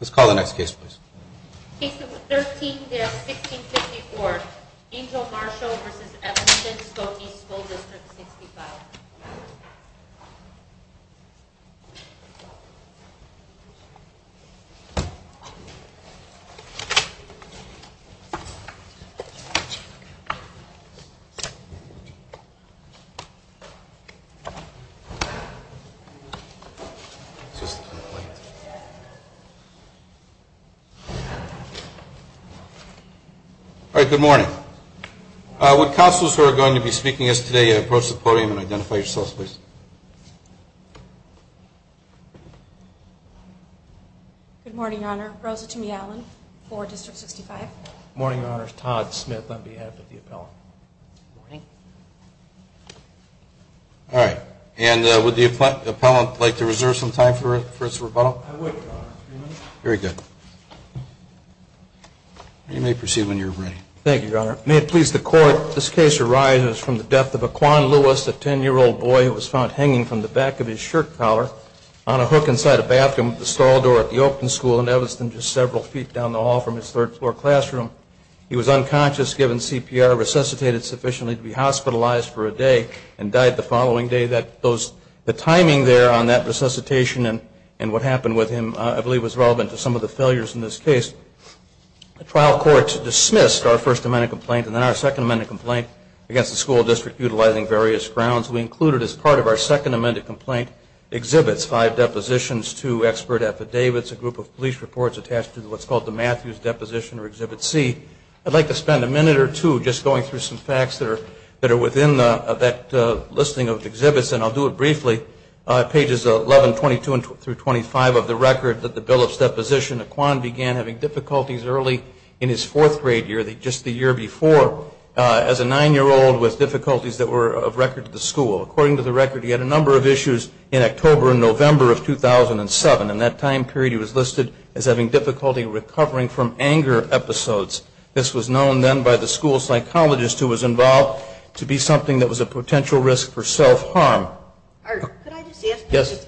Let's call the next case please. Case number 13-1654, Angel Marshall v. Evanston Skokie School District 65 All right, good morning. Would counselors who are going to be speaking to us today approach the podium and identify yourselves please? Good morning, Your Honor. Rosa Tumey-Allen for District 65. Good morning, Your Honor. Todd Smith on behalf of the appellant. Good morning. All right. And would the appellant like to reserve some time for his rebuttal? I would, Your Honor. Very good. You may proceed when you're ready. Thank you, Your Honor. May it please the Court, this case arises from the death of a Kwan Lewis, a 10-year-old boy who was found hanging from the back of his shirt collar on a hook inside a bathroom at the stall door at the Oakton School in Evanston, just several feet down the hall from his third-floor classroom. He was unconscious, given CPR, resuscitated sufficiently to be hospitalized for a day and died the following day. The timing there on that resuscitation and what happened with him I believe was relevant to some of the failures in this case. The trial court dismissed our First Amendment complaint and then our Second Amendment complaint against the school district utilizing various grounds. We included as part of our Second Amendment complaint exhibits five depositions, two expert affidavits, a group of police reports attached to what's called the Matthews Deposition or Exhibit C. I'd like to spend a minute or two just going through some facts that are within that listing of exhibits, and I'll do it briefly. Pages 11, 22, through 25 of the record that the Billups Deposition, a Kwan began having difficulties early in his fourth-grade year, just the year before, as a 9-year-old with difficulties that were of record to the school. According to the record, he had a number of issues in October and November of 2007. In that time period, he was listed as having difficulty recovering from anger episodes. This was known then by the school psychologist who was involved to be something that was a potential risk for self-harm. Could I just ask? Yes.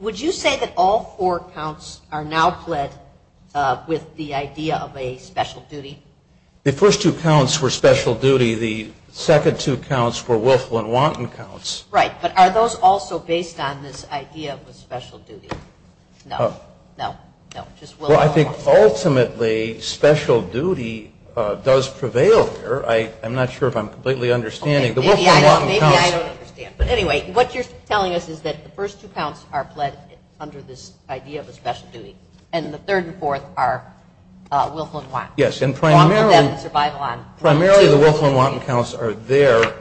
Would you say that all four counts are now pled with the idea of a special duty? The first two counts were special duty. The second two counts were willful and wanton counts. Right. But are those also based on this idea of a special duty? No. No? No. Well, I think ultimately special duty does prevail here. I'm not sure if I'm completely understanding. Maybe I don't understand. But anyway, what you're telling us is that the first two counts are pled under this idea of a special duty, and the third and fourth are willful and wanton. Yes, and primarily the willful and wanton counts are there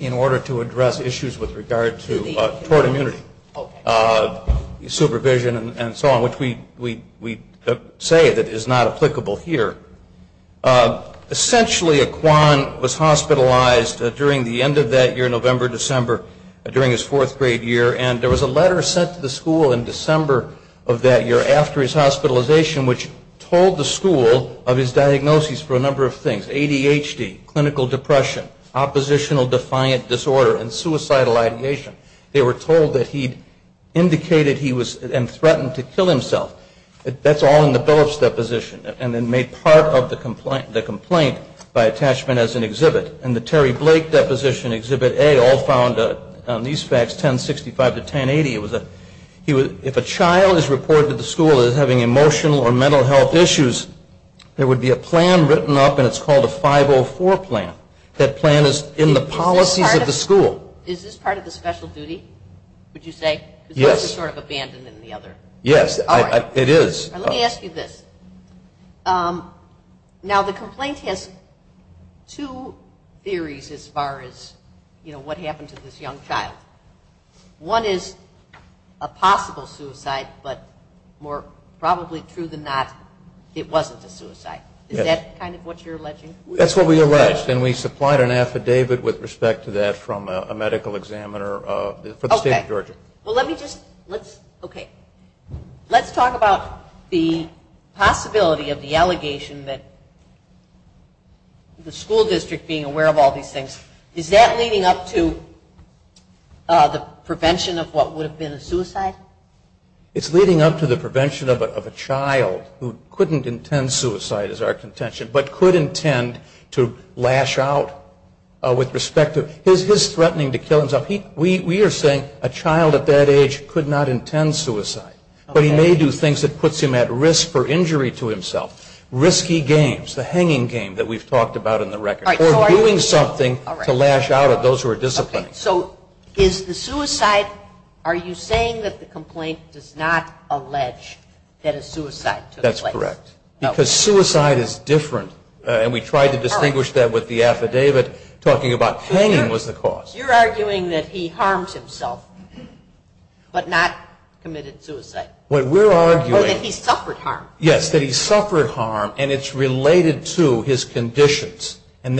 in order to address issues with regard to tort immunity, supervision and so on, which we say that is not applicable here. Essentially, Aquan was hospitalized during the end of that year, November, December, during his fourth grade year, and there was a letter sent to the school in December of that year after his hospitalization which told the school of his diagnoses for a number of things, ADHD, clinical depression, oppositional defiant disorder and suicidal ideation. They were told that he indicated he was and threatened to kill himself. That's all in the Phillips deposition, and then made part of the complaint by attachment as an exhibit. And the Terry Blake deposition, Exhibit A, all found on these facts, 1065 to 1080, if a child is reported to the school as having emotional or mental health issues, there would be a plan written up, and it's called a 504 plan. That plan is in the policies of the school. Is this part of the special duty, would you say? Yes. Because one is sort of abandoned in the other. Yes, it is. Let me ask you this. Now, the complaint has two theories as far as, you know, what happened to this young child. One is a possible suicide, but more probably true than not, it wasn't a suicide. Is that kind of what you're alleging? That's what we alleged, and we supplied an affidavit with respect to that from a medical examiner for the state of Georgia. Well, let me just, let's, okay. Let's talk about the possibility of the allegation that the school district being aware of all these things, is that leading up to the prevention of what would have been a suicide? It's leading up to the prevention of a child who couldn't intend suicide, is our contention, but could intend to lash out with respect to his threatening to kill himself. We are saying a child at that age could not intend suicide, but he may do things that puts him at risk for injury to himself. Risky games, the hanging game that we've talked about in the record. Or doing something to lash out at those who are disciplining. So is the suicide, are you saying that the complaint does not allege that a suicide took place? That's correct. Because suicide is different, and we tried to distinguish that with the affidavit talking about hanging was the cause. You're arguing that he harmed himself, but not committed suicide. What we're arguing. Or that he suffered harm. Yes, that he suffered harm, and it's related to his conditions. And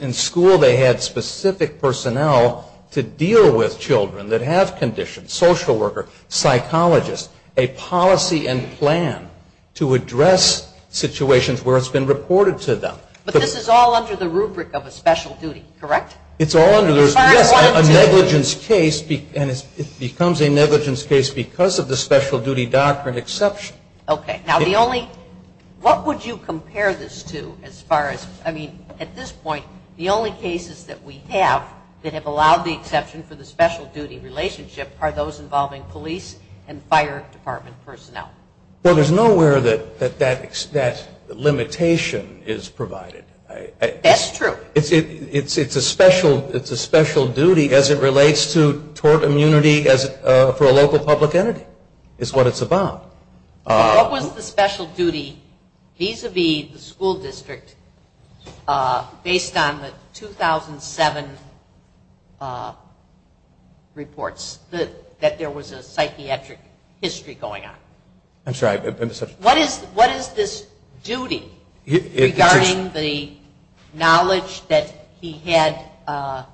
in school they had specific personnel to deal with children that have conditions. Social worker, psychologist, a policy and plan to address situations where it's been reported to them. But this is all under the rubric of a special duty, correct? It's all under the rubric. Yes, a negligence case, and it becomes a negligence case because of the special duty doctrine exception. Okay, now the only, what would you compare this to as far as, I mean, at this point, the only cases that we have that have allowed the exception for the special duty relationship are those involving police and fire department personnel. Well, there's nowhere that that limitation is provided. That's true. It's a special duty as it relates to tort immunity for a local public entity is what it's about. What was the special duty vis-a-vis the school district based on the 2007 reports that there was a psychiatric history going on? I'm sorry. What is this duty regarding the knowledge that he had, I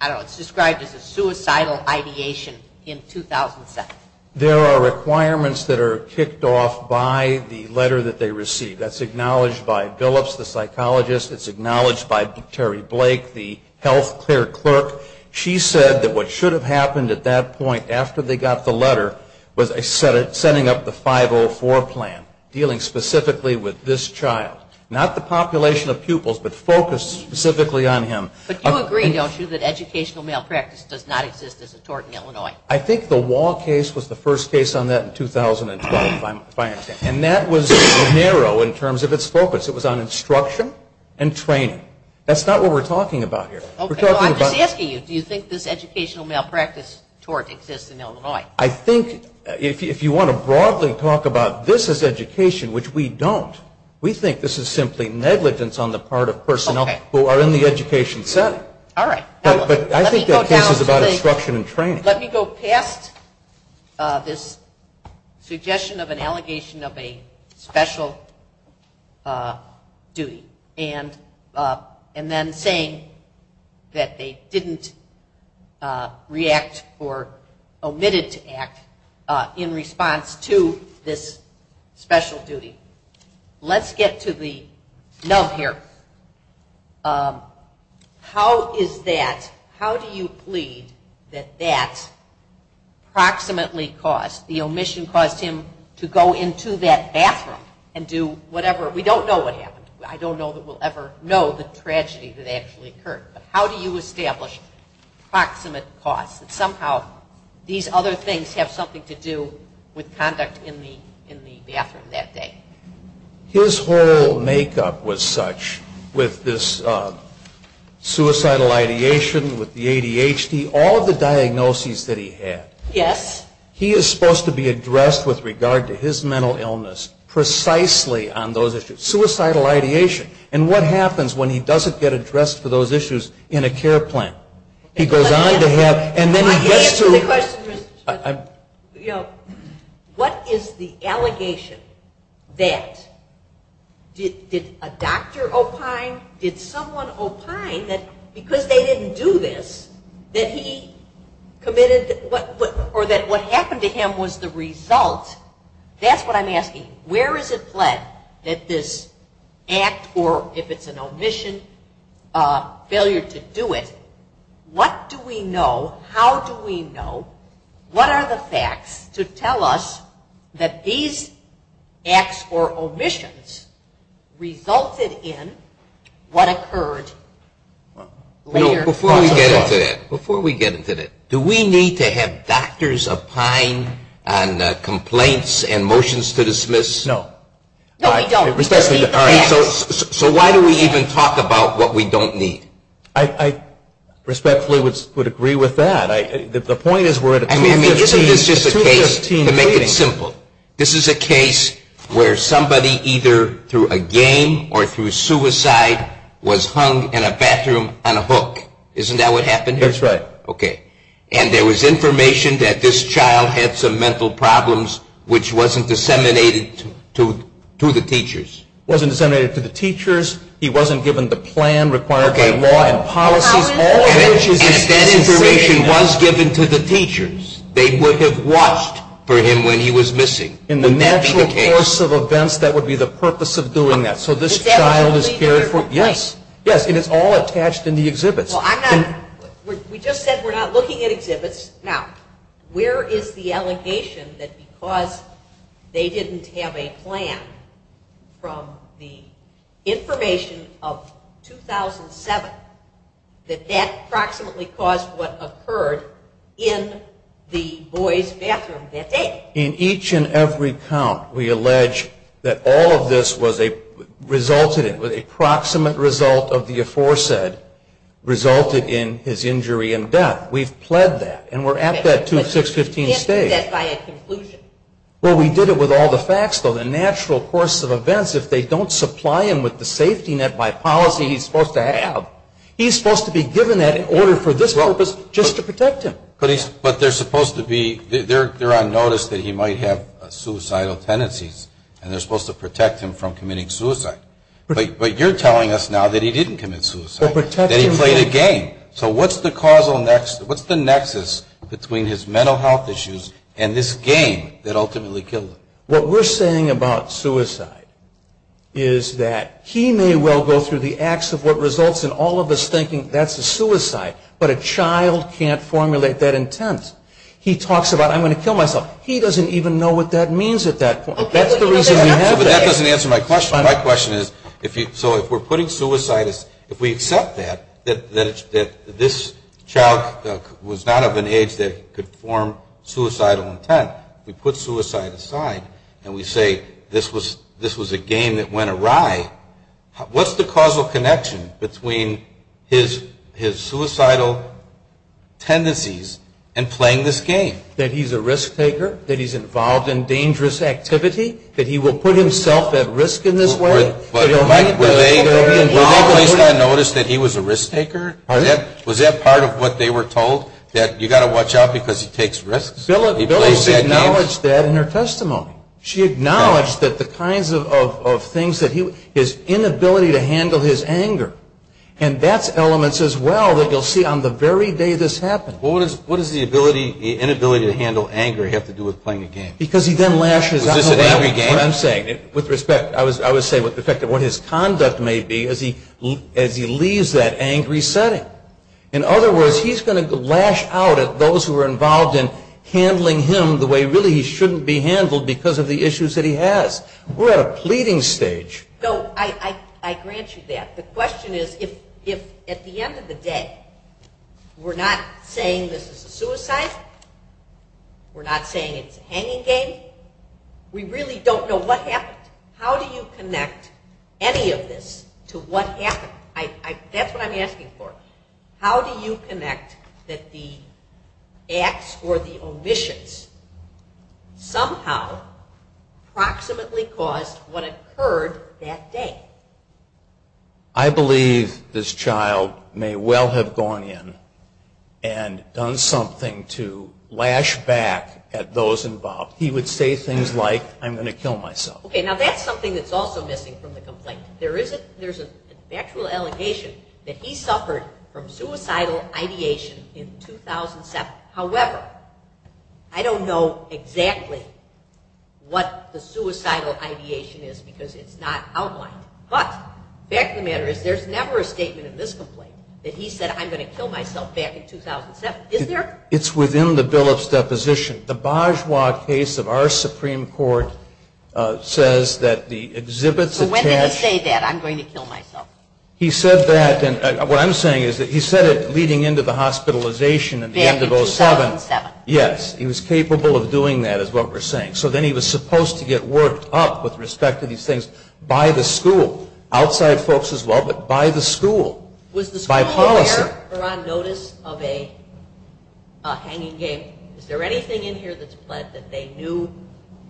don't know, it's described as a suicidal ideation in 2007? There are requirements that are kicked off by the letter that they receive. That's acknowledged by Billups, the psychologist. It's acknowledged by Terry Blake, the health care clerk. She said that what should have happened at that point after they got the letter was setting up the 504 plan, dealing specifically with this child. Not the population of pupils, but focused specifically on him. But you agree, don't you, that educational malpractice does not exist as a tort in Illinois? I think the Wall case was the first case on that in 2012, if I understand. And that was narrow in terms of its focus. It was on instruction and training. That's not what we're talking about here. I'm just asking you, do you think this educational malpractice tort exists in Illinois? I think if you want to broadly talk about this as education, which we don't, we think this is simply negligence on the part of personnel who are in the education setting. But I think that case is about instruction and training. Let me go past this suggestion of an allegation of a special duty and then saying that they didn't react or omitted to act in response to this special duty. Let's get to the nub here. How is that, how do you plead that that approximately caused, the omission caused him to go into that bathroom and do whatever? We don't know what happened. I don't know that we'll ever know the tragedy that actually occurred. But how do you establish proximate cause that somehow these other things have something to do with conduct in the bathroom that day? His whole makeup was such with this suicidal ideation, with the ADHD, all of the diagnoses that he had. Yes. He is supposed to be addressed with regard to his mental illness precisely on those issues. Suicidal ideation. And what happens when he doesn't get addressed for those issues in a care plan? He goes on to have, and then he gets to. Let me answer the question, Mr. Judge. What is the allegation that, did a doctor opine, did someone opine that because they didn't do this, that he committed, or that what happened to him was the result? That's what I'm asking. Where is it pled that this act, or if it's an omission, failure to do it, what do we know, how do we know, what are the facts to tell us that these acts or omissions resulted in what occurred later? Before we get into that, before we get into that, do we need to have doctors opine on complaints and motions to dismiss? No. No, we don't. So why do we even talk about what we don't need? I respectfully would agree with that. The point is we're at a 2015 rating. Isn't this just a case, to make it simple, this is a case where somebody either through a game or through suicide was hung in a bathroom on a hook. Isn't that what happened here? That's right. Okay. And there was information that this child had some mental problems which wasn't disseminated to the teachers. Wasn't disseminated to the teachers. He wasn't given the plan required by law and policies. And if that information was given to the teachers, they would have watched for him when he was missing. In the natural course of events, that would be the purpose of doing that. So this child is cared for. Yes. Yes, and it's all attached in the exhibits. Well, I'm not. We just said we're not looking at exhibits. Now, where is the allegation that because they didn't have a plan from the information of 2007, that that approximately caused what occurred in the boys' bathroom that day? In each and every count, we allege that all of this resulted in, with a proximate result of the aforesaid, resulted in his injury and death. We've pled that. And we're at that 2-6-15 stage. But you can't do that by a conclusion. Well, we did it with all the facts, though. The natural course of events, if they don't supply him with the safety net by policy he's supposed to have, he's supposed to be given that in order for this purpose just to protect him. But they're supposed to be, they're on notice that he might have suicidal tendencies, and they're supposed to protect him from committing suicide. But you're telling us now that he didn't commit suicide, that he played a game. So what's the causal, what's the nexus between his mental health issues and this game that ultimately killed him? What we're saying about suicide is that he may well go through the acts of what results in all of us thinking that's a suicide, but a child can't formulate that intent. He talks about, I'm going to kill myself. He doesn't even know what that means at that point. That's the reason we have that. But that doesn't answer my question. My question is, so if we're putting suicide as, if we accept that, that this child was not of an age that he could form suicidal intent, we put suicide aside and we say this was a game that went awry, what's the causal connection between his suicidal tendencies and playing this game? That he's a risk taker? That he's involved in dangerous activity? That he will put himself at risk in this way? Was that part of what they were told, that you've got to watch out because he takes risks? She acknowledged that in her testimony. She acknowledged that the kinds of things that he, his inability to handle his anger, and that's elements as well that you'll see on the very day this happened. What does the inability to handle anger have to do with playing a game? Because he then lashes out. Was this an angry game? That's what I'm saying. With respect, I would say with respect to what his conduct may be as he leaves that angry setting. In other words, he's going to lash out at those who are involved in handling him the way really he shouldn't be handled because of the issues that he has. We're at a pleading stage. No, I grant you that. The question is if at the end of the day we're not saying this is a suicide, we're not saying it's a hanging game, we really don't know what happened. How do you connect any of this to what happened? That's what I'm asking for. How do you connect that the acts or the omissions somehow approximately caused what occurred that day? I believe this child may well have gone in and done something to lash back at those involved. He would say things like, I'm going to kill myself. Okay, now that's something that's also missing from the complaint. There's an actual allegation that he suffered from suicidal ideation in 2007. However, I don't know exactly what the suicidal ideation is because it's not outlined. But the fact of the matter is there's never a statement in this complaint that he said, I'm going to kill myself back in 2007. Is there? It's within the Billups' deposition. The Bajwa case of our Supreme Court says that the exhibits attach. So when did he say that, I'm going to kill myself? He said that, and what I'm saying is that he said it leading into the hospitalization in the end of 2007. Yes, he was capable of doing that is what we're saying. So then he was supposed to get worked up with respect to these things by the school, outside folks as well, but by the school. Was the school aware or on notice of a hanging game? Is there anything in here that's pled that they knew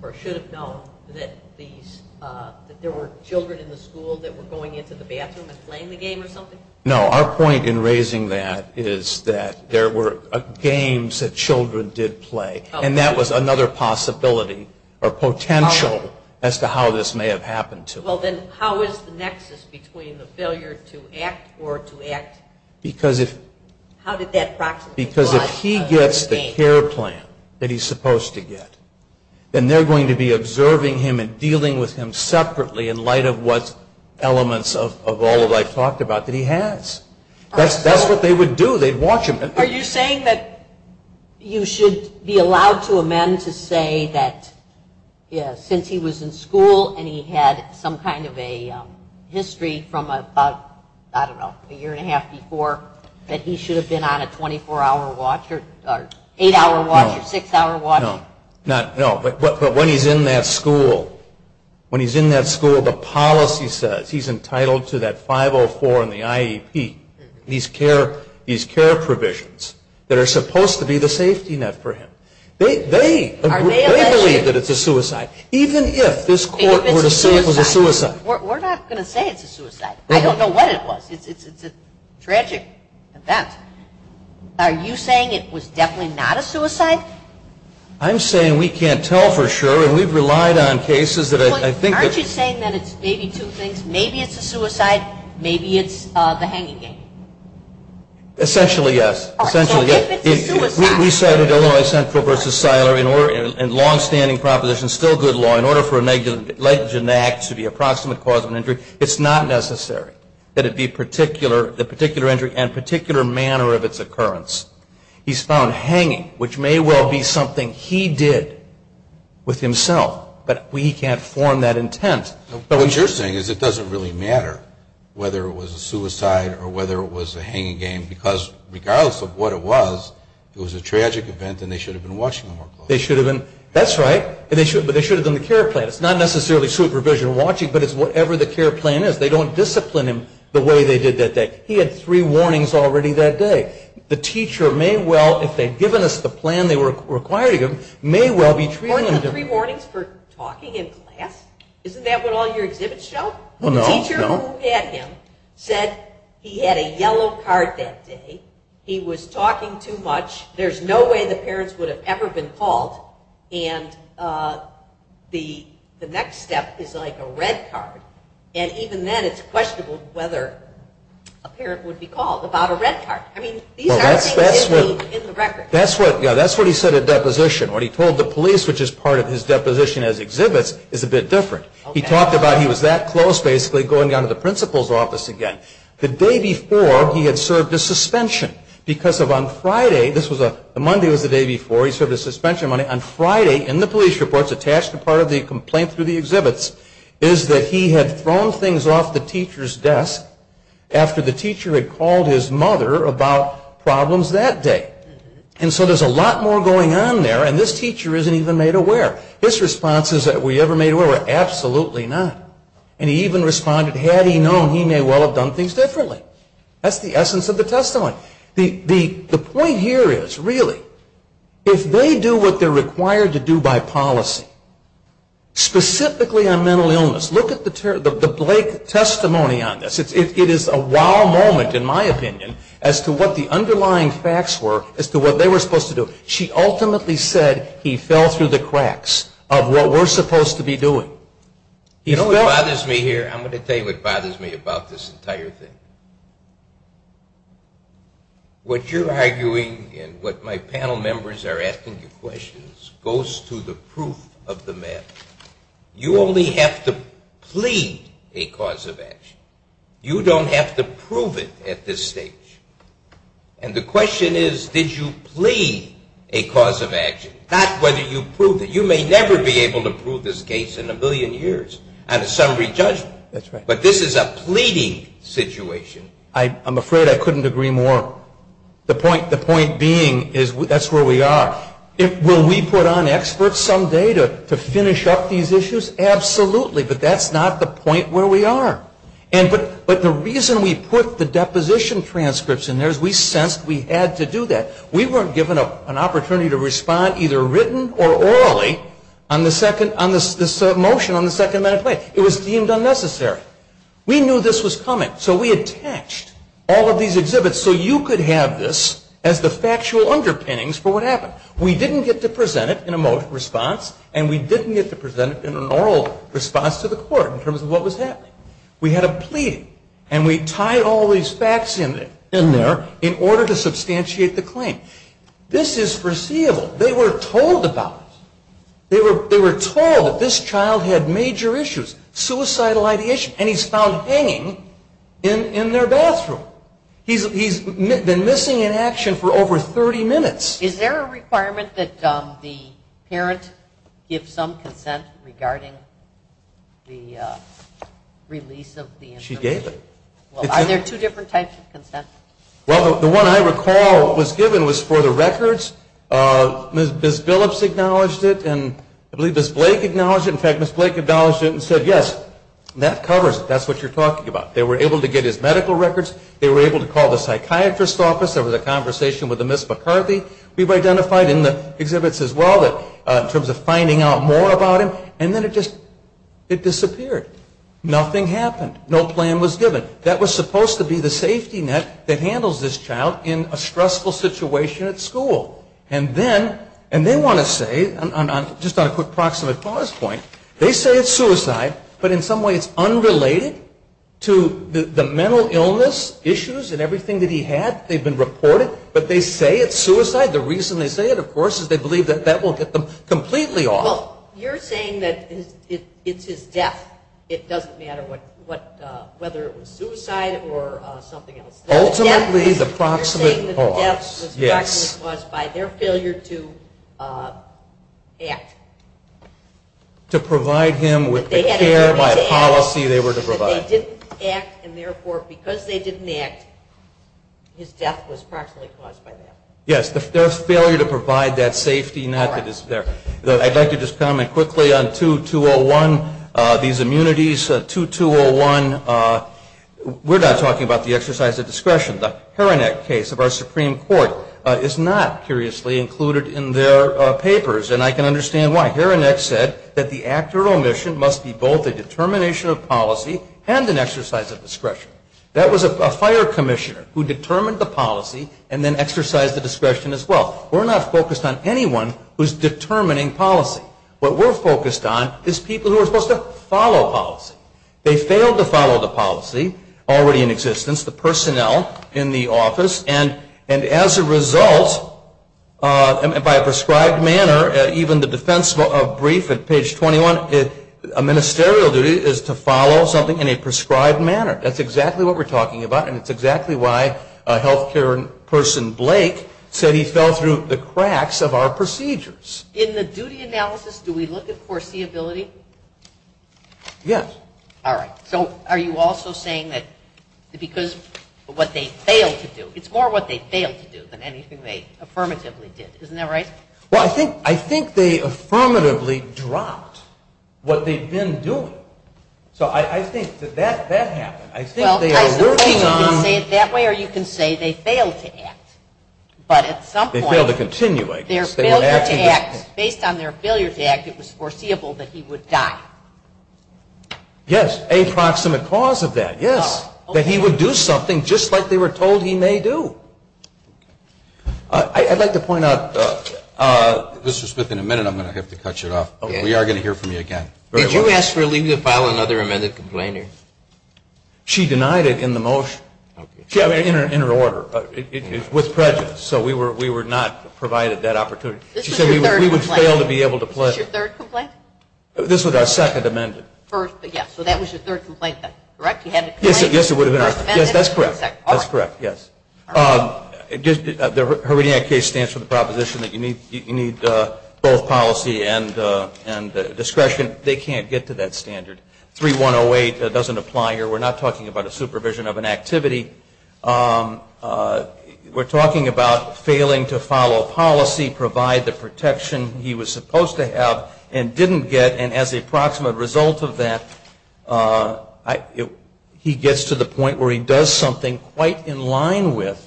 or should have known that there were children in the school that were going into the bathroom and playing the game or something? No, our point in raising that is that there were games that children did play, and that was another possibility or potential as to how this may have happened to him. Well, then how is the nexus between the failure to act or to act? Because if he gets the care plan that he's supposed to get, then they're going to be observing him and dealing with him separately in light of what elements of all that I've talked about that he has. That's what they would do. They'd watch him. Are you saying that you should be allowed to amend to say that since he was in school and he had some kind of a history from about, I don't know, a year and a half before, that he should have been on a 24-hour watch or 8-hour watch or 6-hour watch? No. But when he's in that school, when he's in that school, the policy says he's entitled to that 504 and the IEP, these care provisions that are supposed to be the safety net for him. They believe that it's a suicide. Even if this court were to say it was a suicide. We're not going to say it's a suicide. I don't know what it was. It's a tragic event. Are you saying it was definitely not a suicide? I'm saying we can't tell for sure, and we've relied on cases that I think have. Aren't you saying that it's maybe two things? Maybe it's a suicide. Maybe it's the hanging game. Essentially, yes. Essentially, yes. We cited Illinois Central v. Seiler in longstanding proposition, still good law, in order for a negligent act to be an approximate cause of an injury. It's not necessary that it be the particular injury and particular manner of its occurrence. He's found hanging, which may well be something he did with himself, but we can't form that intent. What you're saying is it doesn't really matter whether it was a suicide or whether it was a hanging game because regardless of what it was, it was a tragic event and they should have been watching him more closely. That's right, but they should have done the care plan. It's not necessarily supervision and watching, but it's whatever the care plan is. They don't discipline him the way they did that day. He had three warnings already that day. The teacher may well, if they'd given us the plan they were requiring him, may well be treating him differently. Weren't the three warnings for talking in class? Isn't that what all your exhibits show? The teacher who had him said he had a yellow card that day. He was talking too much. There's no way the parents would have ever been called. And the next step is like a red card. And even then it's questionable whether a parent would be called about a red card. I mean, these aren't things that would be in the record. That's what he said at deposition. What he told the police, which is part of his deposition as exhibits, is a bit different. He talked about he was that close, basically, going down to the principal's office again. The day before, he had served a suspension because on Friday, this was a Monday was the day before, he served a suspension. On Friday, in the police reports, attached to part of the complaint through the exhibits, is that he had thrown things off the teacher's desk after the teacher had called his mother about problems that day. And so there's a lot more going on there, and this teacher isn't even made aware. His responses that we ever made aware were, absolutely not. And he even responded, had he known, he may well have done things differently. That's the essence of the testimony. The point here is, really, if they do what they're required to do by policy, specifically on mental illness, look at the Blake testimony on this. It is a wow moment, in my opinion, as to what the underlying facts were as to what they were supposed to do. She ultimately said, he fell through the cracks of what we're supposed to be doing. You know what bothers me here? I'm going to tell you what bothers me about this entire thing. What you're arguing and what my panel members are asking you questions goes to the proof of the matter. You only have to plead a cause of action. You don't have to prove it at this stage. And the question is, did you plead a cause of action? Not whether you proved it. You may never be able to prove this case in a million years on a summary judgment. But this is a pleading situation. I'm afraid I couldn't agree more. The point being, that's where we are. Will we put on experts some day to finish up these issues? Absolutely. But that's not the point where we are. But the reason we put the deposition transcripts in there is we sensed we had to do that. We weren't given an opportunity to respond either written or orally on this motion on the Second Amendment. It was deemed unnecessary. We knew this was coming. So we attached all of these exhibits so you could have this as the factual underpinnings for what happened. We didn't get to present it in a motion response. And we didn't get to present it in an oral response to the court in terms of what was happening. We had a pleading. And we tied all these facts in there in order to substantiate the claim. This is foreseeable. They were told about it. They were told that this child had major issues, suicidal ideation. And he's found hanging in their bathroom. He's been missing in action for over 30 minutes. Is there a requirement that the parent give some consent regarding the release of the information? She gave it. Are there two different types of consent? Well, the one I recall was given was for the records. Ms. Billups acknowledged it. And I believe Ms. Blake acknowledged it. In fact, Ms. Blake acknowledged it and said, yes, that covers it. That's what you're talking about. They were able to call the psychiatrist's office. There was a conversation with Ms. McCarthy. We've identified in the exhibits as well in terms of finding out more about him. And then it just disappeared. Nothing happened. No plan was given. That was supposed to be the safety net that handles this child in a stressful situation at school. And then they want to say, just on a quick proximate pause point, they say it's suicide, but in some way it's unrelated to the mental illness issues and everything that he had. They've been reported, but they say it's suicide. The reason they say it, of course, is they believe that that will get them completely off. Well, you're saying that it's his death. It doesn't matter whether it was suicide or something else. Ultimately, the proximate pause. You're saying that the death was caused by their failure to act. To provide him with the care, the policy they were to provide. They didn't act, and therefore, because they didn't act, his death was partially caused by that. Yes, their failure to provide that safety net that is there. I'd like to just comment quickly on 2201, these immunities. 2201, we're not talking about the exercise of discretion. The Heranek case of our Supreme Court is not, curiously, included in their papers, and I can understand why. That the act or omission must be both a determination of policy and an exercise of discretion. That was a fire commissioner who determined the policy and then exercised the discretion as well. We're not focused on anyone who's determining policy. What we're focused on is people who are supposed to follow policy. They failed to follow the policy already in existence. The personnel in the office, and as a result, by a prescribed manner, even the defense brief at page 21, a ministerial duty is to follow something in a prescribed manner. That's exactly what we're talking about, and it's exactly why healthcare person Blake said he fell through the cracks of our procedures. In the duty analysis, do we look at foreseeability? Yes. All right. So are you also saying that because of what they failed to do, it's more what they failed to do than anything they affirmatively did. Isn't that right? Well, I think they affirmatively dropped what they've been doing. So I think that that happened. I think they are working on – Well, I suppose you can say it that way or you can say they failed to act. But at some point – They failed to continue, I guess. They failed to act. Based on their failure to act, it was foreseeable that he would die. Yes, a proximate cause of that, yes, that he would do something just like they were told he may do. I'd like to point out, Mr. Smith, in a minute I'm going to have to cut you off. We are going to hear from you again. Did you ask for a leave to file another amended complainant? She denied it in the motion, in her order, with prejudice. So we were not provided that opportunity. She said we would fail to be able to pledge. This was your third complaint? This was our second amended. First, yes. So that was your third complaint then, correct? Yes, it would have been. Yes, that's correct. All right. That's correct, yes. The Heredia case stands for the proposition that you need both policy and discretion. They can't get to that standard. 3108 doesn't apply here. We're not talking about a supervision of an activity. We're talking about failing to follow policy, provide the protection he was supposed to have and didn't get. And as a result of that, he gets to the point where he does something quite in line with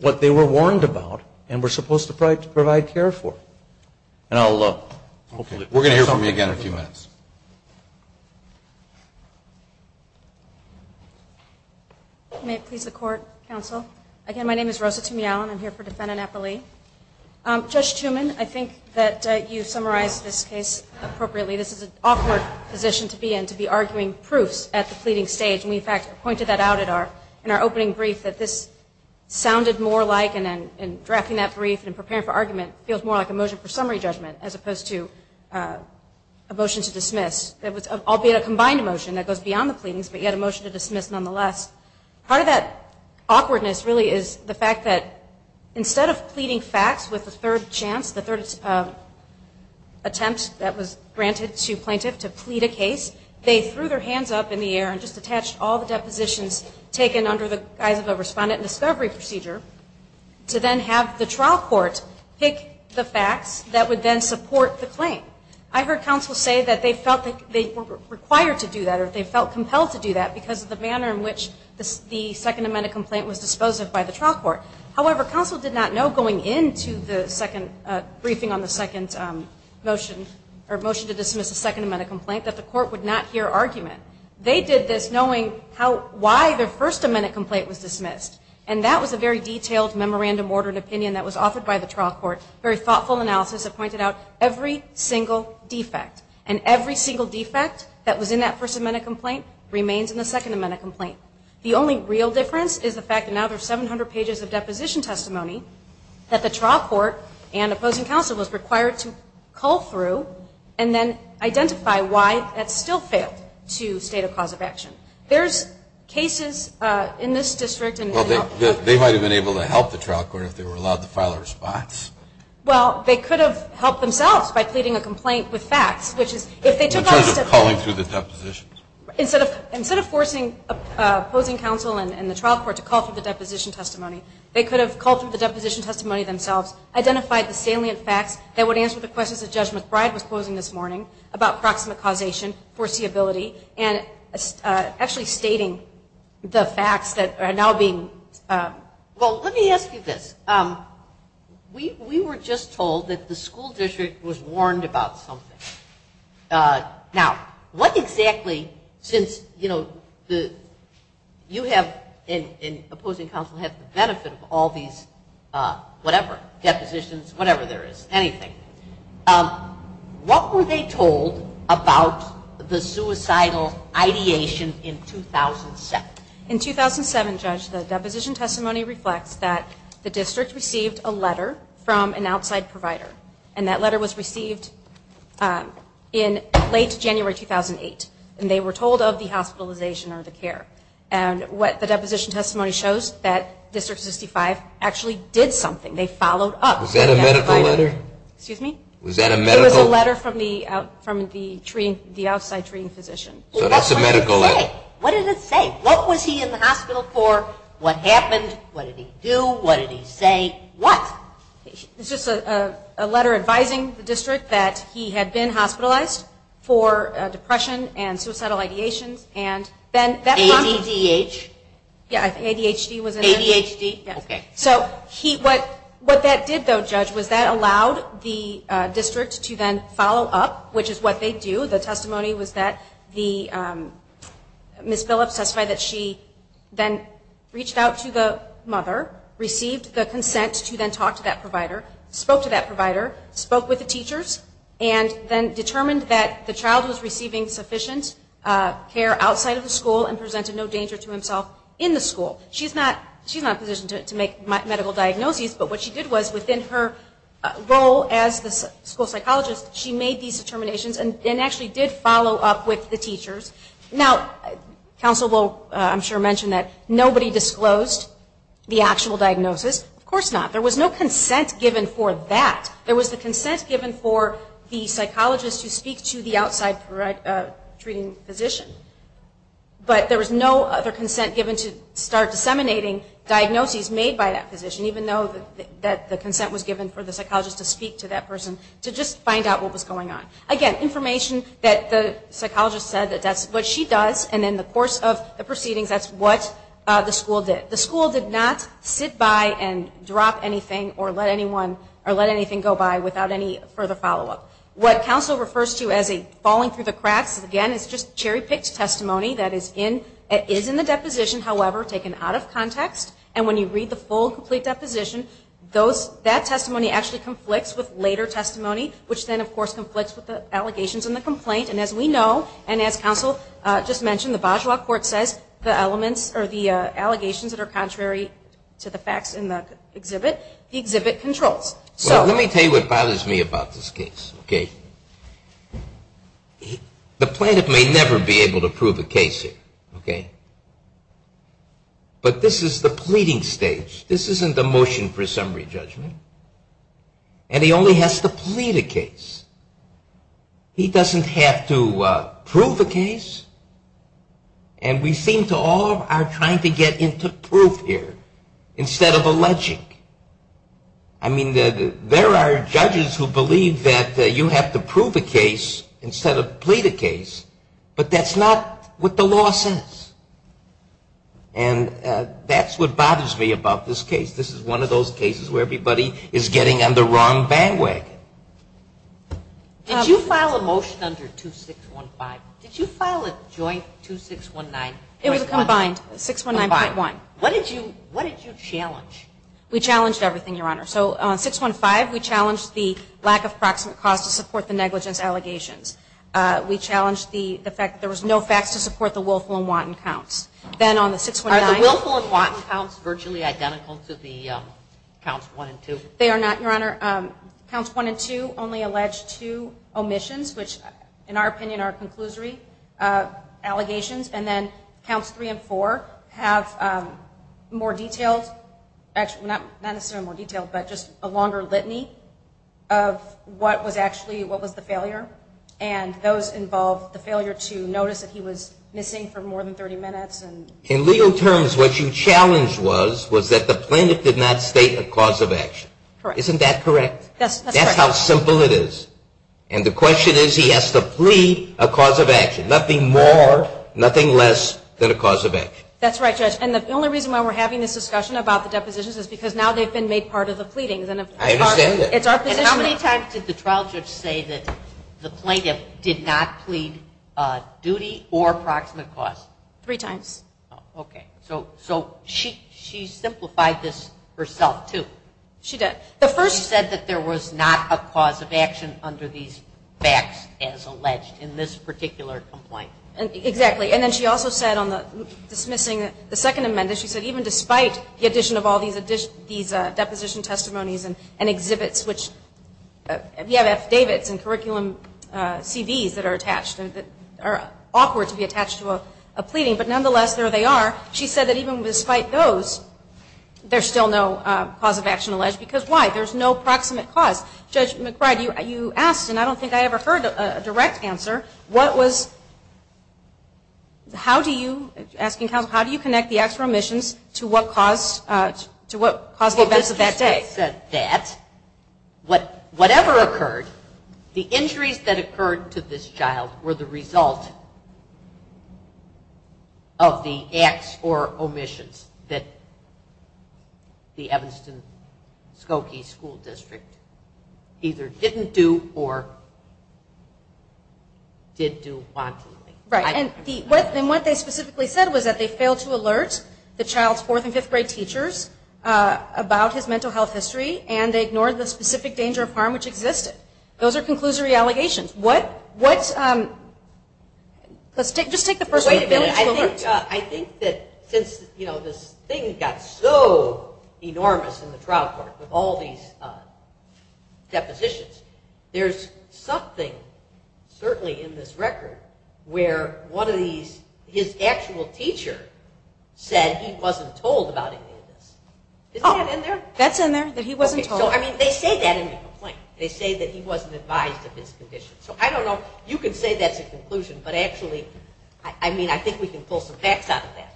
what they were warned about and were supposed to provide care for. We're going to hear from you again in a few minutes. May it please the Court, Counsel. Again, my name is Rosa Tumial, and I'm here for Defendant Eppley. Judge Tumin, I think that you summarized this case appropriately. This is an awkward position to be in, to be arguing proofs at the pleading stage. And we, in fact, pointed that out in our opening brief that this sounded more like, and drafting that brief and preparing for argument feels more like a motion for summary judgment as opposed to a motion to dismiss, albeit a combined motion that goes beyond the pleadings, but yet a motion to dismiss nonetheless. Part of that awkwardness really is the fact that instead of pleading facts with a third chance, the third attempt that was granted to plaintiff to plead a case, they threw their hands up in the air and just attached all the depositions taken under the guise of a respondent discovery procedure to then have the trial court pick the facts that would then support the claim. I heard counsel say that they felt that they were required to do that or they felt compelled to do that because of the manner in which the Second Amendment complaint was disposed of by the trial court. However, counsel did not know going into the second briefing on the second motion, or motion to dismiss the Second Amendment complaint, that the court would not hear argument. They did this knowing how, why their First Amendment complaint was dismissed. And that was a very detailed memorandum ordered opinion that was offered by the trial court, very thoughtful analysis that pointed out every single defect. And every single defect that was in that First Amendment complaint remains in the Second Amendment complaint. The only real difference is the fact that now there are 700 pages of deposition testimony that the trial court and opposing counsel was required to call through and then identify why that still failed to state a cause of action. There's cases in this district. Well, they might have been able to help the trial court if they were allowed to file a response. Well, they could have helped themselves by pleading a complaint with facts, which is if they took on a step. In terms of calling through the depositions. Instead of forcing opposing counsel and the trial court to call through the deposition testimony, they could have called through the deposition testimony themselves, identified the salient facts that would answer the questions that Judge McBride was posing this morning about proximate causation, foreseeability, and actually stating the facts that are now being. Well, let me ask you this. We were just told that the school district was warned about something. Now, what exactly, since, you know, you have and opposing counsel have the benefit of all these whatever, depositions, whatever there is, anything. What were they told about the suicidal ideation in 2007? In 2007, Judge, the deposition testimony reflects that the district received a letter from an outside provider. And that letter was received in late January 2008. And they were told of the hospitalization or the care. And what the deposition testimony shows, that District 65 actually did something. They followed up. Was that a medical letter? Excuse me? Was that a medical? It was a letter from the outside treating physician. So that's a medical letter. What did it say? What was he in the hospital for? What happened? What did he do? What did he say? What? It was just a letter advising the district that he had been hospitalized for depression and suicidal ideations. And then that prompted. ADHD? Yeah, ADHD was in there. ADHD? Yeah. Okay. So what that did, though, Judge, was that allowed the district to then follow up, which is what they do. The testimony was that Ms. Phillips testified that she then reached out to the mother, received the consent to then talk to that provider, spoke to that provider, spoke with the teachers, and then determined that the child was receiving sufficient care outside of the school and presented no danger to himself in the school. She's not positioned to make medical diagnoses, but what she did was within her role as the school psychologist, she made these determinations and actually did follow up with the teachers. Now, counsel will, I'm sure, mention that nobody disclosed the actual diagnosis. Of course not. There was no consent given for that. There was the consent given for the psychologist to speak to the outside treating physician, but there was no other consent given to start disseminating diagnoses made by that physician, even though the consent was given for the psychologist to speak to that person to just find out what was going on. Again, information that the psychologist said that that's what she does, and then the course of the proceedings, that's what the school did. The school did not sit by and drop anything or let anything go by without any further follow up. What counsel refers to as a falling through the cracks, again, is just cherry-picked testimony that is in the deposition, however, taken out of context, and when you read the full, complete deposition, that testimony actually conflicts with later testimony, which then, of course, conflicts with the allegations in the complaint, and as we know, and as counsel just mentioned, the Bajau Court says the allegations that are contrary to the facts in the exhibit, the exhibit controls. Let me tell you what bothers me about this case. The plaintiff may never be able to prove a case here, but this is the pleading stage. This isn't a motion for a summary judgment, and he only has to plead a case. He doesn't have to prove a case, and we seem to all are trying to get into proof here instead of alleging. I mean, there are judges who believe that you have to prove a case instead of plead a case, but that's not what the law says, and that's what bothers me about this case. This is one of those cases where everybody is getting on the wrong bandwagon. Did you file a motion under 2615? Did you file a joint 2619? It was a combined, 619.1. What did you challenge? We challenged everything, Your Honor. So on 615, we challenged the lack of proximate cause to support the negligence allegations. We challenged the fact that there was no facts to support the willful and wanton counts. Are the willful and wanton counts virtually identical to the counts one and two? They are not, Your Honor. Counts one and two only allege two omissions, which in our opinion are conclusory allegations, and then counts three and four have more detailed, not necessarily more detailed, but just a longer litany of what was actually what was the failure, and those involved the failure to notice that he was missing for more than 30 minutes. In legal terms, what you challenged was that the plaintiff did not state a cause of action. Correct. Isn't that correct? That's correct. That's how simple it is, and the question is he has to plead a cause of action, nothing more, nothing less than a cause of action. That's right, Judge, and the only reason why we're having this discussion about the depositions is because now they've been made part of the pleadings. I understand that. And how many times did the trial judge say that the plaintiff did not plead duty or proximate cause? Three times. Okay. So she simplified this herself, too. She did. She said that there was not a cause of action under these facts as alleged in this particular complaint. Exactly, and then she also said on dismissing the second amendment, she said even despite the addition of all these deposition testimonies and exhibits, which we have affidavits and curriculum CVs that are attached, that are awkward to be attached to a pleading, but nonetheless, there they are. She said that even despite those, there's still no cause of action alleged, because why? There's no proximate cause. Judge McBride, you asked, and I don't think I ever heard a direct answer, what was, how do you, asking counsel, how do you connect the acts or omissions to what caused the events of that day? Well, this just said that whatever occurred, the injuries that occurred to this child were the result of the acts or omissions that the Evanston-Skokie School District either didn't do or did do wantonly. Right, and what they specifically said was that they failed to alert the child's fourth and fifth grade teachers about his mental health history, and they ignored the specific danger of harm which existed. Those are conclusory allegations. What's, let's just take the first one. I think that since, you know, this thing got so enormous in the trial court with all these depositions, there's something certainly in this record where one of these, his actual teacher said he wasn't told about any of this. Isn't that in there? That's in there, that he wasn't told. Okay, so I mean, they say that in the complaint. They say that he wasn't advised of his condition. So I don't know, you can say that's a conclusion, but actually, I mean, I think we can pull some facts out of that.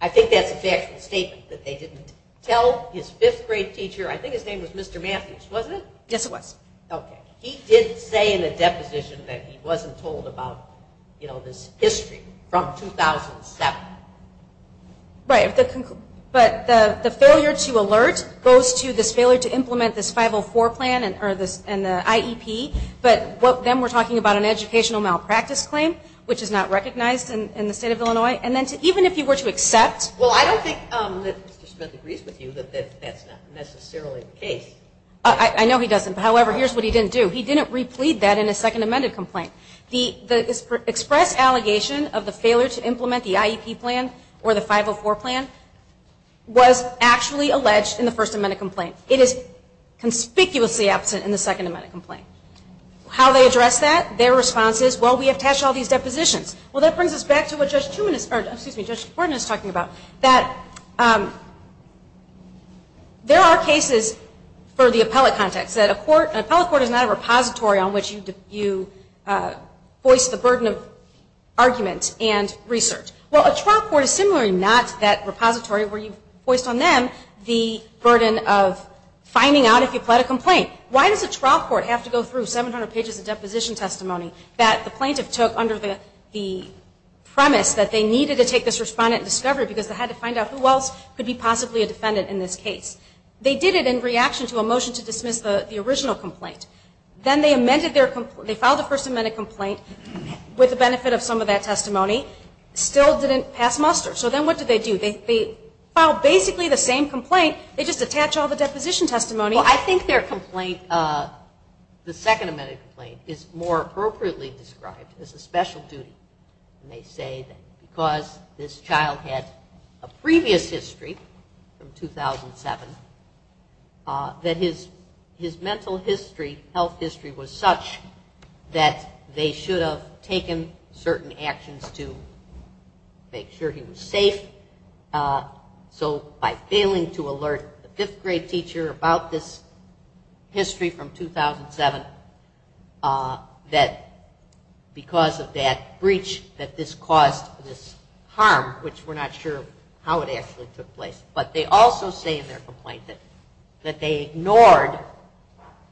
I think that's a factual statement that they didn't tell his fifth grade teacher. I think his name was Mr. Matthews, wasn't it? Yes, it was. Okay. He did say in the deposition that he wasn't told about, you know, this history from 2007. Right, but the failure to alert goes to this failure to implement this 504 plan and the IEP, but then we're talking about an educational malpractice claim, which is not recognized in the state of Illinois, and then even if you were to accept. Well, I don't think that Mr. Smith agrees with you that that's not necessarily the case. I know he doesn't. However, here's what he didn't do. He didn't replead that in his second amended complaint. The express allegation of the failure to implement the IEP plan or the 504 plan was actually alleged in the first amended complaint. It is conspicuously absent in the second amended complaint. How they address that? Their response is, well, we have attached all these depositions. Well, that brings us back to what Judge Borden is talking about, that there are cases for the appellate context, that an appellate court is not a repository on which you voice the burden of argument and research. Well, a trial court is similarly not that repository where you've voiced on them the burden of finding out if you pled a complaint. Why does a trial court have to go through 700 pages of deposition testimony that the plaintiff took under the premise that they needed to take this respondent and discover it because they had to find out who else could be possibly a defendant in this case. They did it in reaction to a motion to dismiss the original complaint. Then they amended their complaint. They filed a first amended complaint with the benefit of some of that testimony. Still didn't pass muster. So then what did they do? They filed basically the same complaint. They just attach all the deposition testimony. Well, I think their complaint, the second amended complaint, is more appropriately described as a special duty. They say that because this child had a previous history from 2007, that his mental health history was such that they should have taken certain actions to make sure he was safe. So by failing to alert the fifth grade teacher about this history from 2007, that because of that breach that this caused this harm, which we're not sure how it actually took place. But they also say in their complaint that they ignored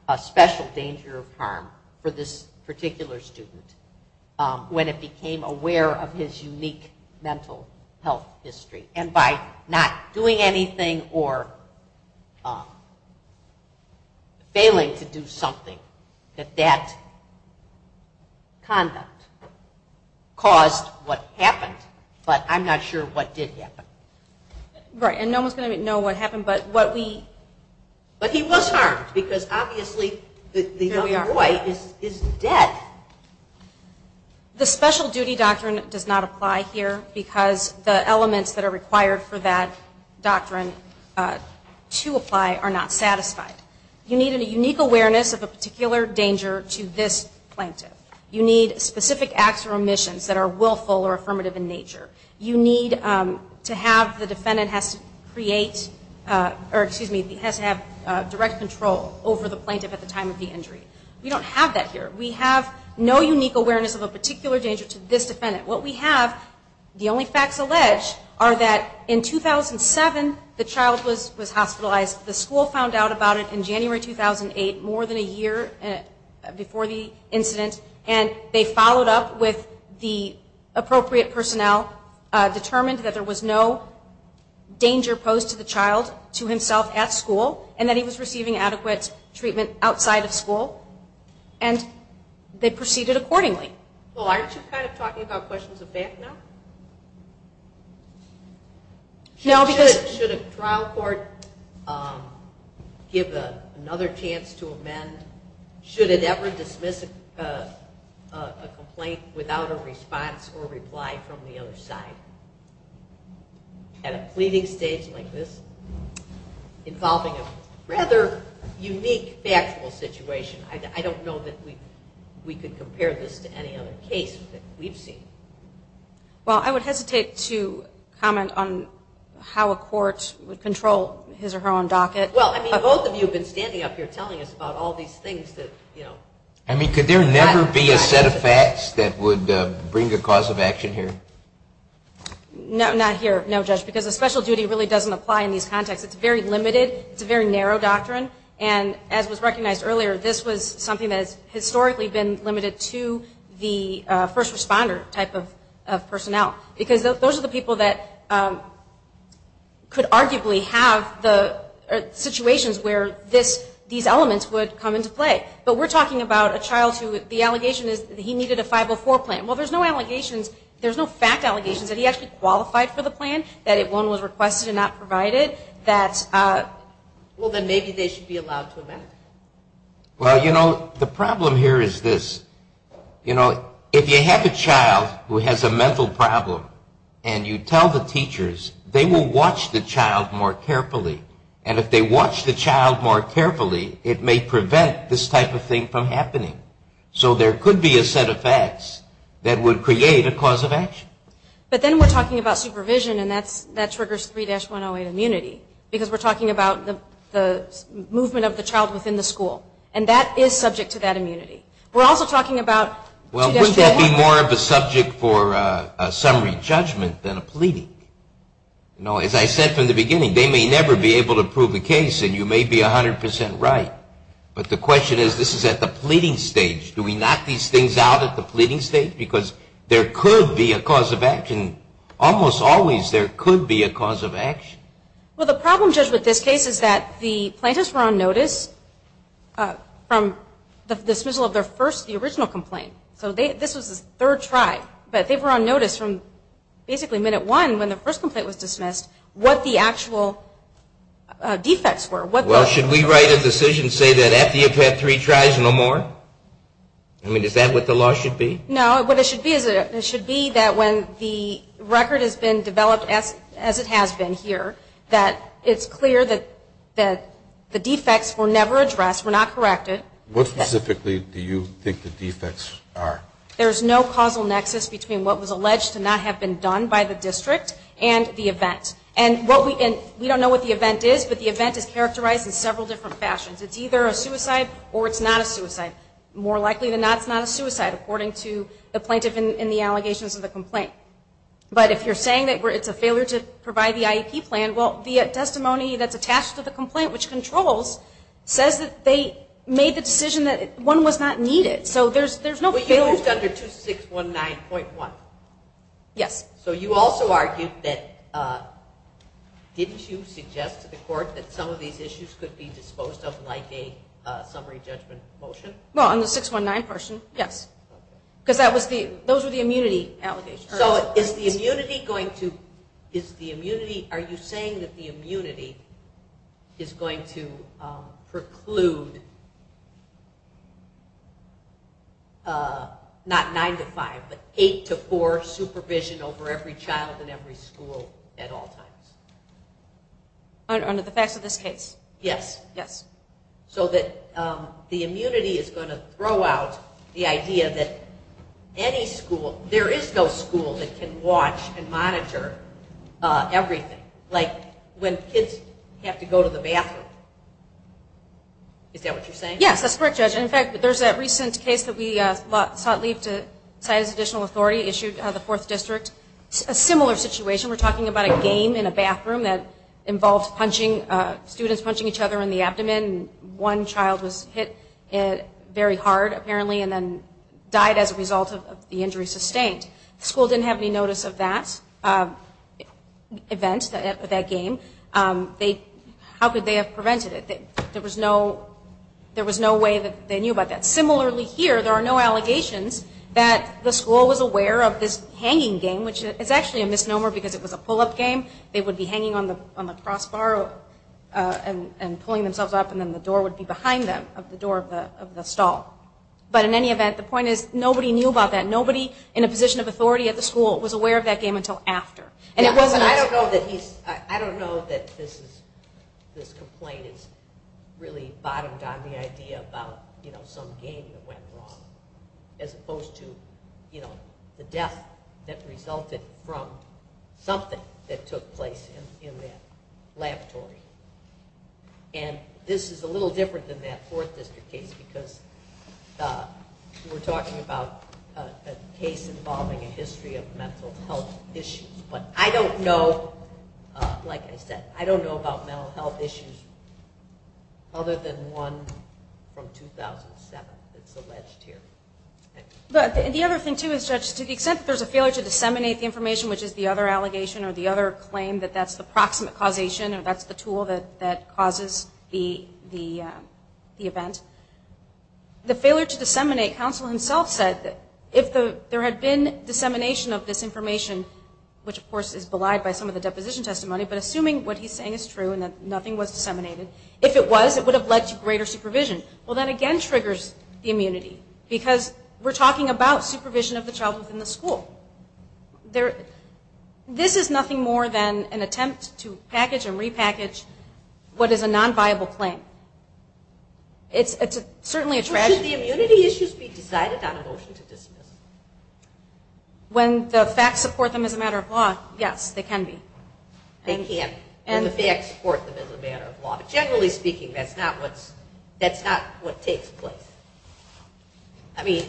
a special danger of harm for this particular student when it became aware of his unique mental health history. And by not doing anything or failing to do something, that that conduct caused what happened. But I'm not sure what did happen. Right. And no one's going to know what happened. But he was harmed because obviously the young boy is dead. The special duty doctrine does not apply here because the elements that are required for that doctrine to apply are not satisfied. You need a unique awareness of a particular danger to this plaintiff. You need specific acts or omissions that are willful or affirmative in nature. You need to have the defendant has to create or, excuse me, has to have direct control over the plaintiff at the time of the injury. We don't have that here. We have no unique awareness of a particular danger to this defendant. What we have, the only facts alleged, are that in 2007 the child was hospitalized. The school found out about it in January 2008, more than a year before the incident, and they followed up with the appropriate personnel, determined that there was no danger posed to the child to himself at school, and that he was receiving adequate treatment outside of school, and they proceeded accordingly. Well, aren't you kind of talking about questions of that now? Should a trial court give another chance to amend? Should it ever dismiss a complaint without a response or reply from the other side? At a pleading stage like this, involving a rather unique factual situation, I don't know that we could compare this to any other case that we've seen. Well, I would hesitate to comment on how a court would control his or her own docket. Well, I mean, both of you have been standing up here telling us about all these things that, you know. I mean, could there never be a set of facts that would bring a cause of action here? No, not here, no, Judge, because a special duty really doesn't apply in these contexts. It's very limited. It's a very narrow doctrine, and as was recognized earlier, this was something that has historically been limited to the first responder type of personnel, because those are the people that could arguably have the situations where these elements would come into play. But we're talking about a child who the allegation is that he needed a 504 plan. Well, there's no allegations, there's no fact allegations that he actually qualified for the plan, that it was requested and not provided. Well, then maybe they should be allowed to amend it. Well, you know, the problem here is this. You know, if you have a child who has a mental problem and you tell the teachers, they will watch the child more carefully, and if they watch the child more carefully, it may prevent this type of thing from happening. So there could be a set of facts that would create a cause of action. But then we're talking about supervision, and that triggers 3-108 immunity, because we're talking about the movement of the child within the school, and that is subject to that immunity. We're also talking about 2-108. Well, wouldn't that be more of a subject for a summary judgment than a pleading? You know, as I said from the beginning, they may never be able to prove a case, and you may be 100 percent right. But the question is, this is at the pleading stage. Do we knock these things out at the pleading stage? Because there could be a cause of action. Almost always there could be a cause of action. Well, the problem, Judge, with this case is that the plaintiffs were on notice from the dismissal of their first, the original complaint. So this was the third try. But they were on notice from basically minute one when the first complaint was dismissed what the actual defects were. Well, should we write a decision and say that after you've had three tries no more? I mean, is that what the law should be? No. What it should be is it should be that when the record has been developed, as it has been here, that it's clear that the defects were never addressed, were not corrected. What specifically do you think the defects are? There's no causal nexus between what was alleged to not have been done by the district and the event. And we don't know what the event is, but the event is characterized in several different fashions. And more likely than not, it's not a suicide, according to the plaintiff in the allegations of the complaint. But if you're saying that it's a failure to provide the IEP plan, well, the testimony that's attached to the complaint, which controls, says that they made the decision that one was not needed. So there's no failure. But you used under 2619.1. Yes. So you also argued that didn't you suggest to the court that some of these issues could be disposed of like a summary judgment motion? Well, on the 619 version, yes. Because that was the, those were the immunity allegations. So is the immunity going to, is the immunity, are you saying that the immunity is going to preclude, not 9 to 5, but 8 to 4 supervision over every child in every school at all times? Under the facts of this case? Yes. Yes. So that the immunity is going to throw out the idea that any school, there is no school that can watch and monitor everything. Like when kids have to go to the bathroom. Is that what you're saying? Yes, that's correct, Judge. In fact, there's that recent case that we sought leave to cite as additional authority issued by the 4th District. A similar situation, we're talking about a game in a bathroom that involved punching, students punching each other in the abdomen. One child was hit very hard apparently and then died as a result of the injury sustained. The school didn't have any notice of that event, that game. How could they have prevented it? There was no way that they knew about that. Similarly here, there are no allegations that the school was aware of this hanging game, which is actually a misnomer because it was a pull-up game. They would be hanging on the crossbar and pulling themselves up and then the door would be behind them of the door of the stall. But in any event, the point is nobody knew about that. Nobody in a position of authority at the school was aware of that game until after. I don't know that this complaint has really bottomed down the idea about some game that went wrong as opposed to the death that resulted from something that took place in that laboratory. This is a little different than that 4th District case because we're talking about a case involving a history of mental health issues. But I don't know, like I said, I don't know about mental health issues other than one from 2007 that's alleged here. The other thing too is, Judge, to the extent that there's a failure to disseminate the information, which is the other allegation or the other claim that that's the proximate causation or that's the tool that causes the event, the failure to disseminate, counsel himself said, if there had been dissemination of this information, which of course is belied by some of the deposition testimony, but assuming what he's saying is true and that nothing was disseminated, if it was, it would have led to greater supervision. Well, that again triggers the immunity because we're talking about supervision of the child within the school. This is nothing more than an attempt to package and repackage what is a nonviable claim. It's certainly a tragedy. Should the immunity issues be decided on a motion to dismiss? When the facts support them as a matter of law, yes, they can be. They can, when the facts support them as a matter of law. But generally speaking, that's not what takes place. I mean,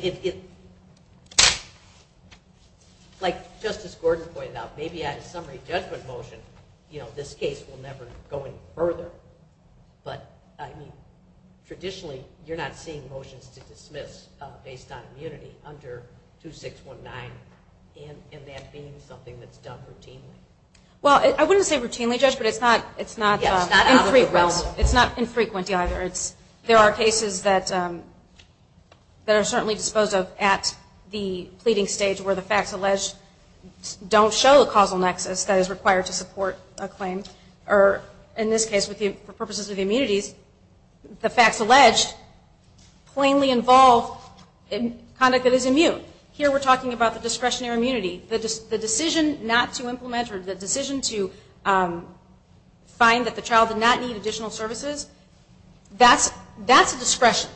like Justice Gordon pointed out, maybe on a summary judgment motion this case will never go any further, but traditionally you're not seeing motions to dismiss based on immunity under 2619 and that being something that's done routinely. Well, I wouldn't say routinely, Judge, but it's not infrequently either. There are cases that are certainly disposed of at the pleading stage where the facts alleged don't show the causal nexus that is required to support a claim. Or in this case, for purposes of immunities, the facts alleged plainly involve conduct that is immune. Here we're talking about the discretionary immunity. The decision not to implement or the decision to find that the child did not need additional services, that's a discretion.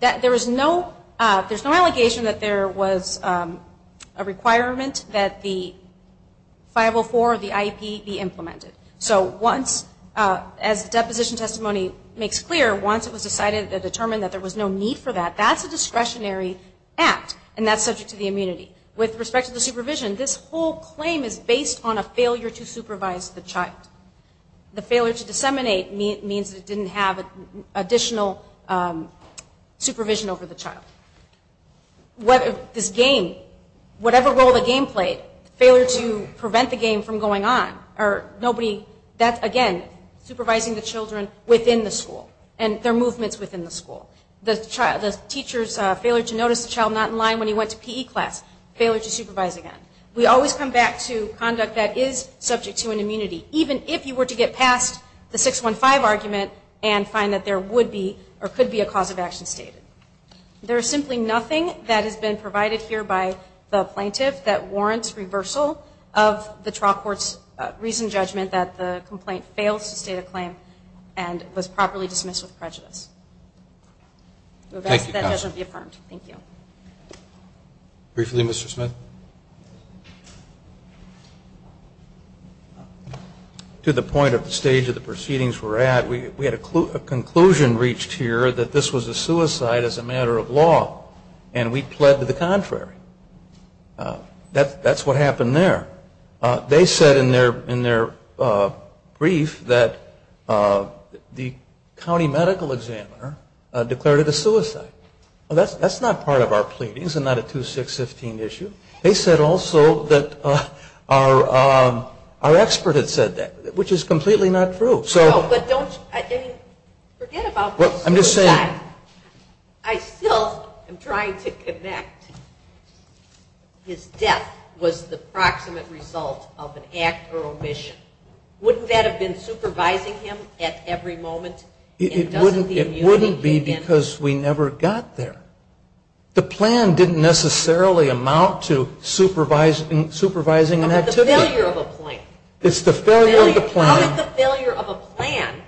There's no allegation that there was a requirement that the 504 or the IEP be implemented. So once, as the deposition testimony makes clear, once it was decided to determine that there was no need for that, that's a discretionary act, and that's subject to the immunity. With respect to the supervision, this whole claim is based on a failure to supervise the child. The failure to disseminate means it didn't have additional supervision over the child. This game, whatever role the game played, failure to prevent the game from going on or nobody, that's, again, supervising the children within the school and their movements within the school. The teacher's failure to notice the child not in line when he went to PE class, failure to supervise again. We always come back to conduct that is subject to an immunity, even if you were to get past the 615 argument and find that there would be or could be a cause of action stated. There is simply nothing that has been provided here by the plaintiff that warrants reversal of the trial court's recent judgment that the complaint fails to state a claim and was properly dismissed with prejudice. Thank you, counsel. That doesn't be affirmed. Thank you. Briefly, Mr. Smith. To the point of the stage of the proceedings we're at, we had a conclusion reached here that this was a suicide as a matter of law, and we pled to the contrary. That's what happened there. They said in their brief that the county medical examiner declared it a suicide. That's not part of our pleadings and not a 2615 issue. They said also that our expert had said that, which is completely not true. Forget about the suicide. I still am trying to connect. His death was the proximate result of an act or omission. Wouldn't that have been supervising him at every moment? It wouldn't be because we never got there. The plan didn't necessarily amount to supervising an activity. I'm talking about the failure of a plan. How did the failure of a plan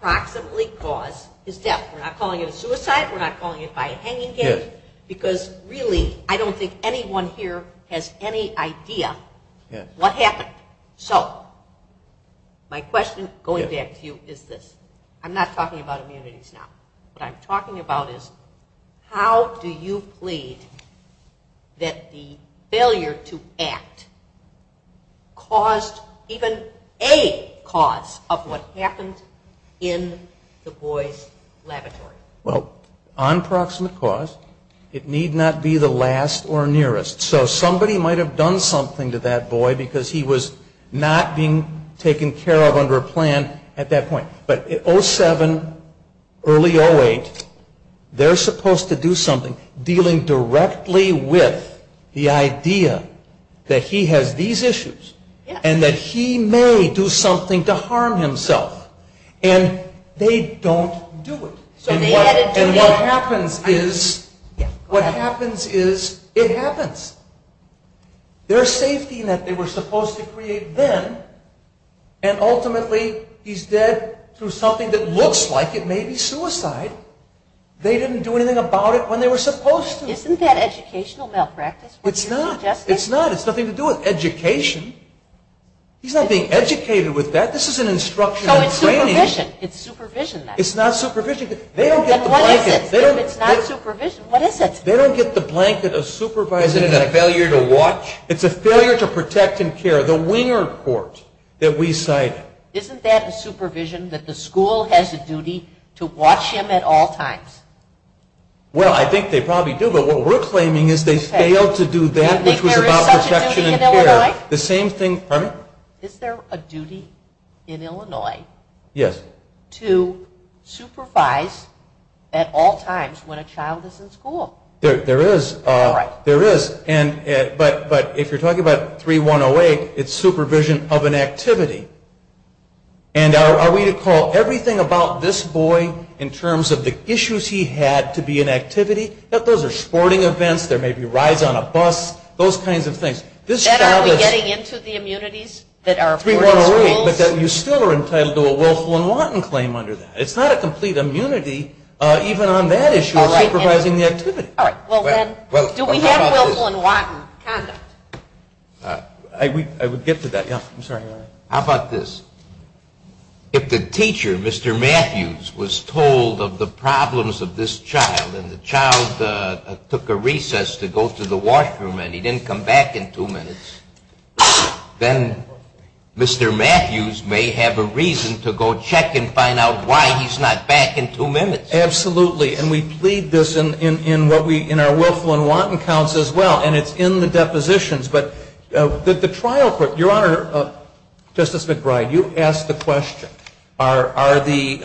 proximately cause his death? We're not calling it a suicide. We're not calling it by a hanging game, because really I don't think anyone here has any idea what happened. So my question going back to you is this. I'm not talking about immunities now. What I'm talking about is how do you plead that the failure to act caused even a cause of what happened in the boy's laboratory? Well, on proximate cause, it need not be the last or nearest. So somebody might have done something to that boy because he was not being taken care of under a plan at that point. But at 07, early 08, they're supposed to do something dealing directly with the idea that he has these issues and that he may do something to harm himself. And they don't do it. And what happens is it happens. There's safety net they were supposed to create then, and ultimately he's dead through something that looks like it may be suicide. They didn't do anything about it when they were supposed to. Isn't that educational malpractice? It's not. It's not. It's nothing to do with education. He's not being educated with that. This is an instruction in training. So it's supervision. It's supervision then. It's not supervision. Then what is it? If it's not supervision, what is it? They don't get the blanket of supervising. Isn't it a failure to watch? It's a failure to protect and care, the winger court that we cited. Isn't that a supervision that the school has a duty to watch him at all times? Well, I think they probably do. But what we're claiming is they failed to do that, Do you think there is such a duty in Illinois? Is there a duty in Illinois to supervise at all times when a child is in school? There is. All right. There is. But if you're talking about 3108, it's supervision of an activity. And are we to call everything about this boy in terms of the issues he had to be an activity? Those are sporting events. There may be rides on a bus. Those kinds of things. Then are we getting into the immunities that are important to schools? But you still are entitled to a willful and wanton claim under that. It's not a complete immunity even on that issue of supervising the activity. All right. Well, then, do we have willful and wanton conduct? I would get to that. Yeah. I'm sorry. How about this? If the teacher, Mr. Matthews, was told of the problems of this child and the child took a recess to go to the washroom and he didn't come back in two minutes, then Mr. Matthews may have a reason to go check and find out why he's not back in two minutes. Absolutely. And we plead this in our willful and wanton counts as well. And it's in the depositions. But the trial court, Your Honor, Justice McBride, you asked the question, are the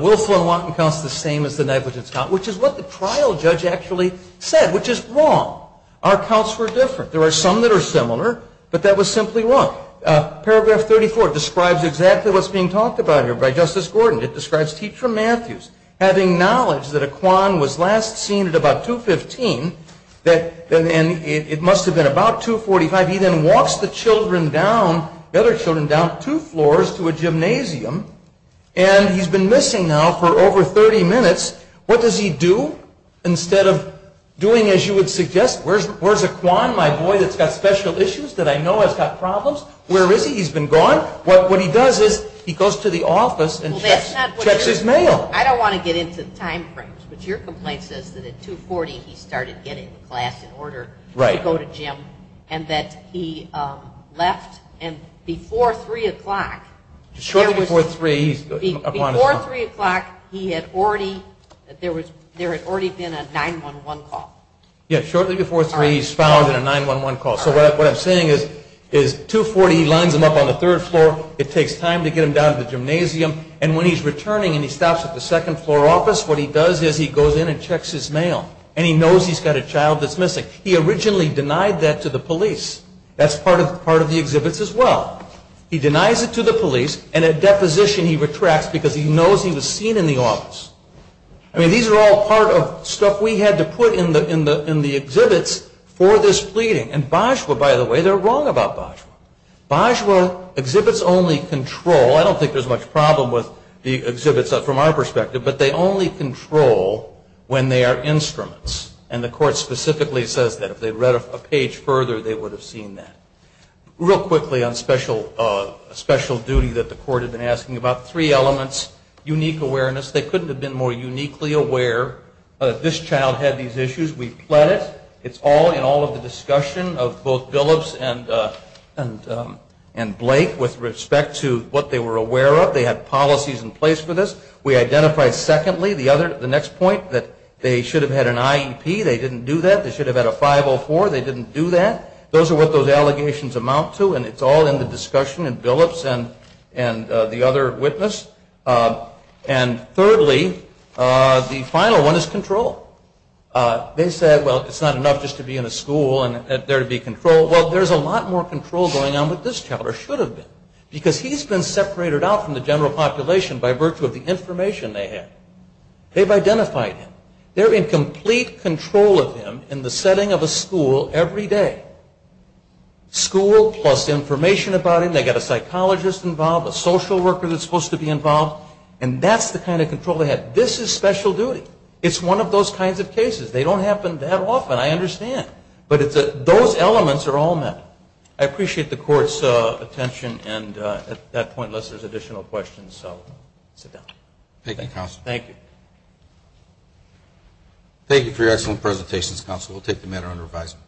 willful and wanton counts the same as the negligence count, which is what the trial judge actually said, which is wrong. Our counts were different. There are some that are similar, but that was simply wrong. Paragraph 34 describes exactly what's being talked about here by Justice Gordon. It describes Teacher Matthews having knowledge that Equan was last seen at about 2.15, and it must have been about 2.45. He then walks the other children down two floors to a gymnasium, and he's been missing now for over 30 minutes. What does he do instead of doing as you would suggest? Where's Equan, my boy, that's got special issues that I know has got problems? Where is he? He's been gone. What he does is he goes to the office and checks his mail. I don't want to get into the time frames, but your complaint says that at 2.40 he started getting to class in order to go to gym, and that he left, and before 3 o'clock, there had already been a 911 call. Yes, shortly before 3 he's found in a 911 call. So what I'm saying is 2.40 he lines him up on the third floor. It takes time to get him down to the gymnasium, and when he's returning and he stops at the second floor office, what he does is he goes in and checks his mail, and he knows he's got a child that's missing. He originally denied that to the police. That's part of the exhibits as well. He denies it to the police, and at deposition he retracts because he knows he was seen in the office. I mean, these are all part of stuff we had to put in the exhibits for this pleading, and Bajwa, by the way, they're wrong about Bajwa. Bajwa exhibits only control. I don't think there's much problem with the exhibits from our perspective, but they only control when they are instruments, and the court specifically says that. If they read a page further, they would have seen that. Real quickly on special duty that the court had been asking about, three elements. Unique awareness. They couldn't have been more uniquely aware that this child had these issues. We've pled it. It's all in all of the discussion of both Billups and Blake with respect to what they were aware of. They had policies in place for this. We identified, secondly, the next point that they should have had an IEP. They didn't do that. They should have had a 504. They didn't do that. Those are what those allegations amount to, and it's all in the discussion in Billups and the other witness. And thirdly, the final one is control. They said, well, it's not enough just to be in a school and there to be control. Well, there's a lot more control going on with this child, or should have been, because he's been separated out from the general population by virtue of the information they had. They've identified him. They're in complete control of him in the setting of a school every day. School plus information about him. They've got a psychologist involved, a social worker that's supposed to be involved, and that's the kind of control they had. This is special duty. It's one of those kinds of cases. They don't happen that often, I understand. But those elements are all met. I appreciate the Court's attention, and at that point, unless there's additional questions, I'll sit down. Thank you, Counsel. Thank you. Thank you for your excellent presentations, Counsel. We'll take the matter under revisal.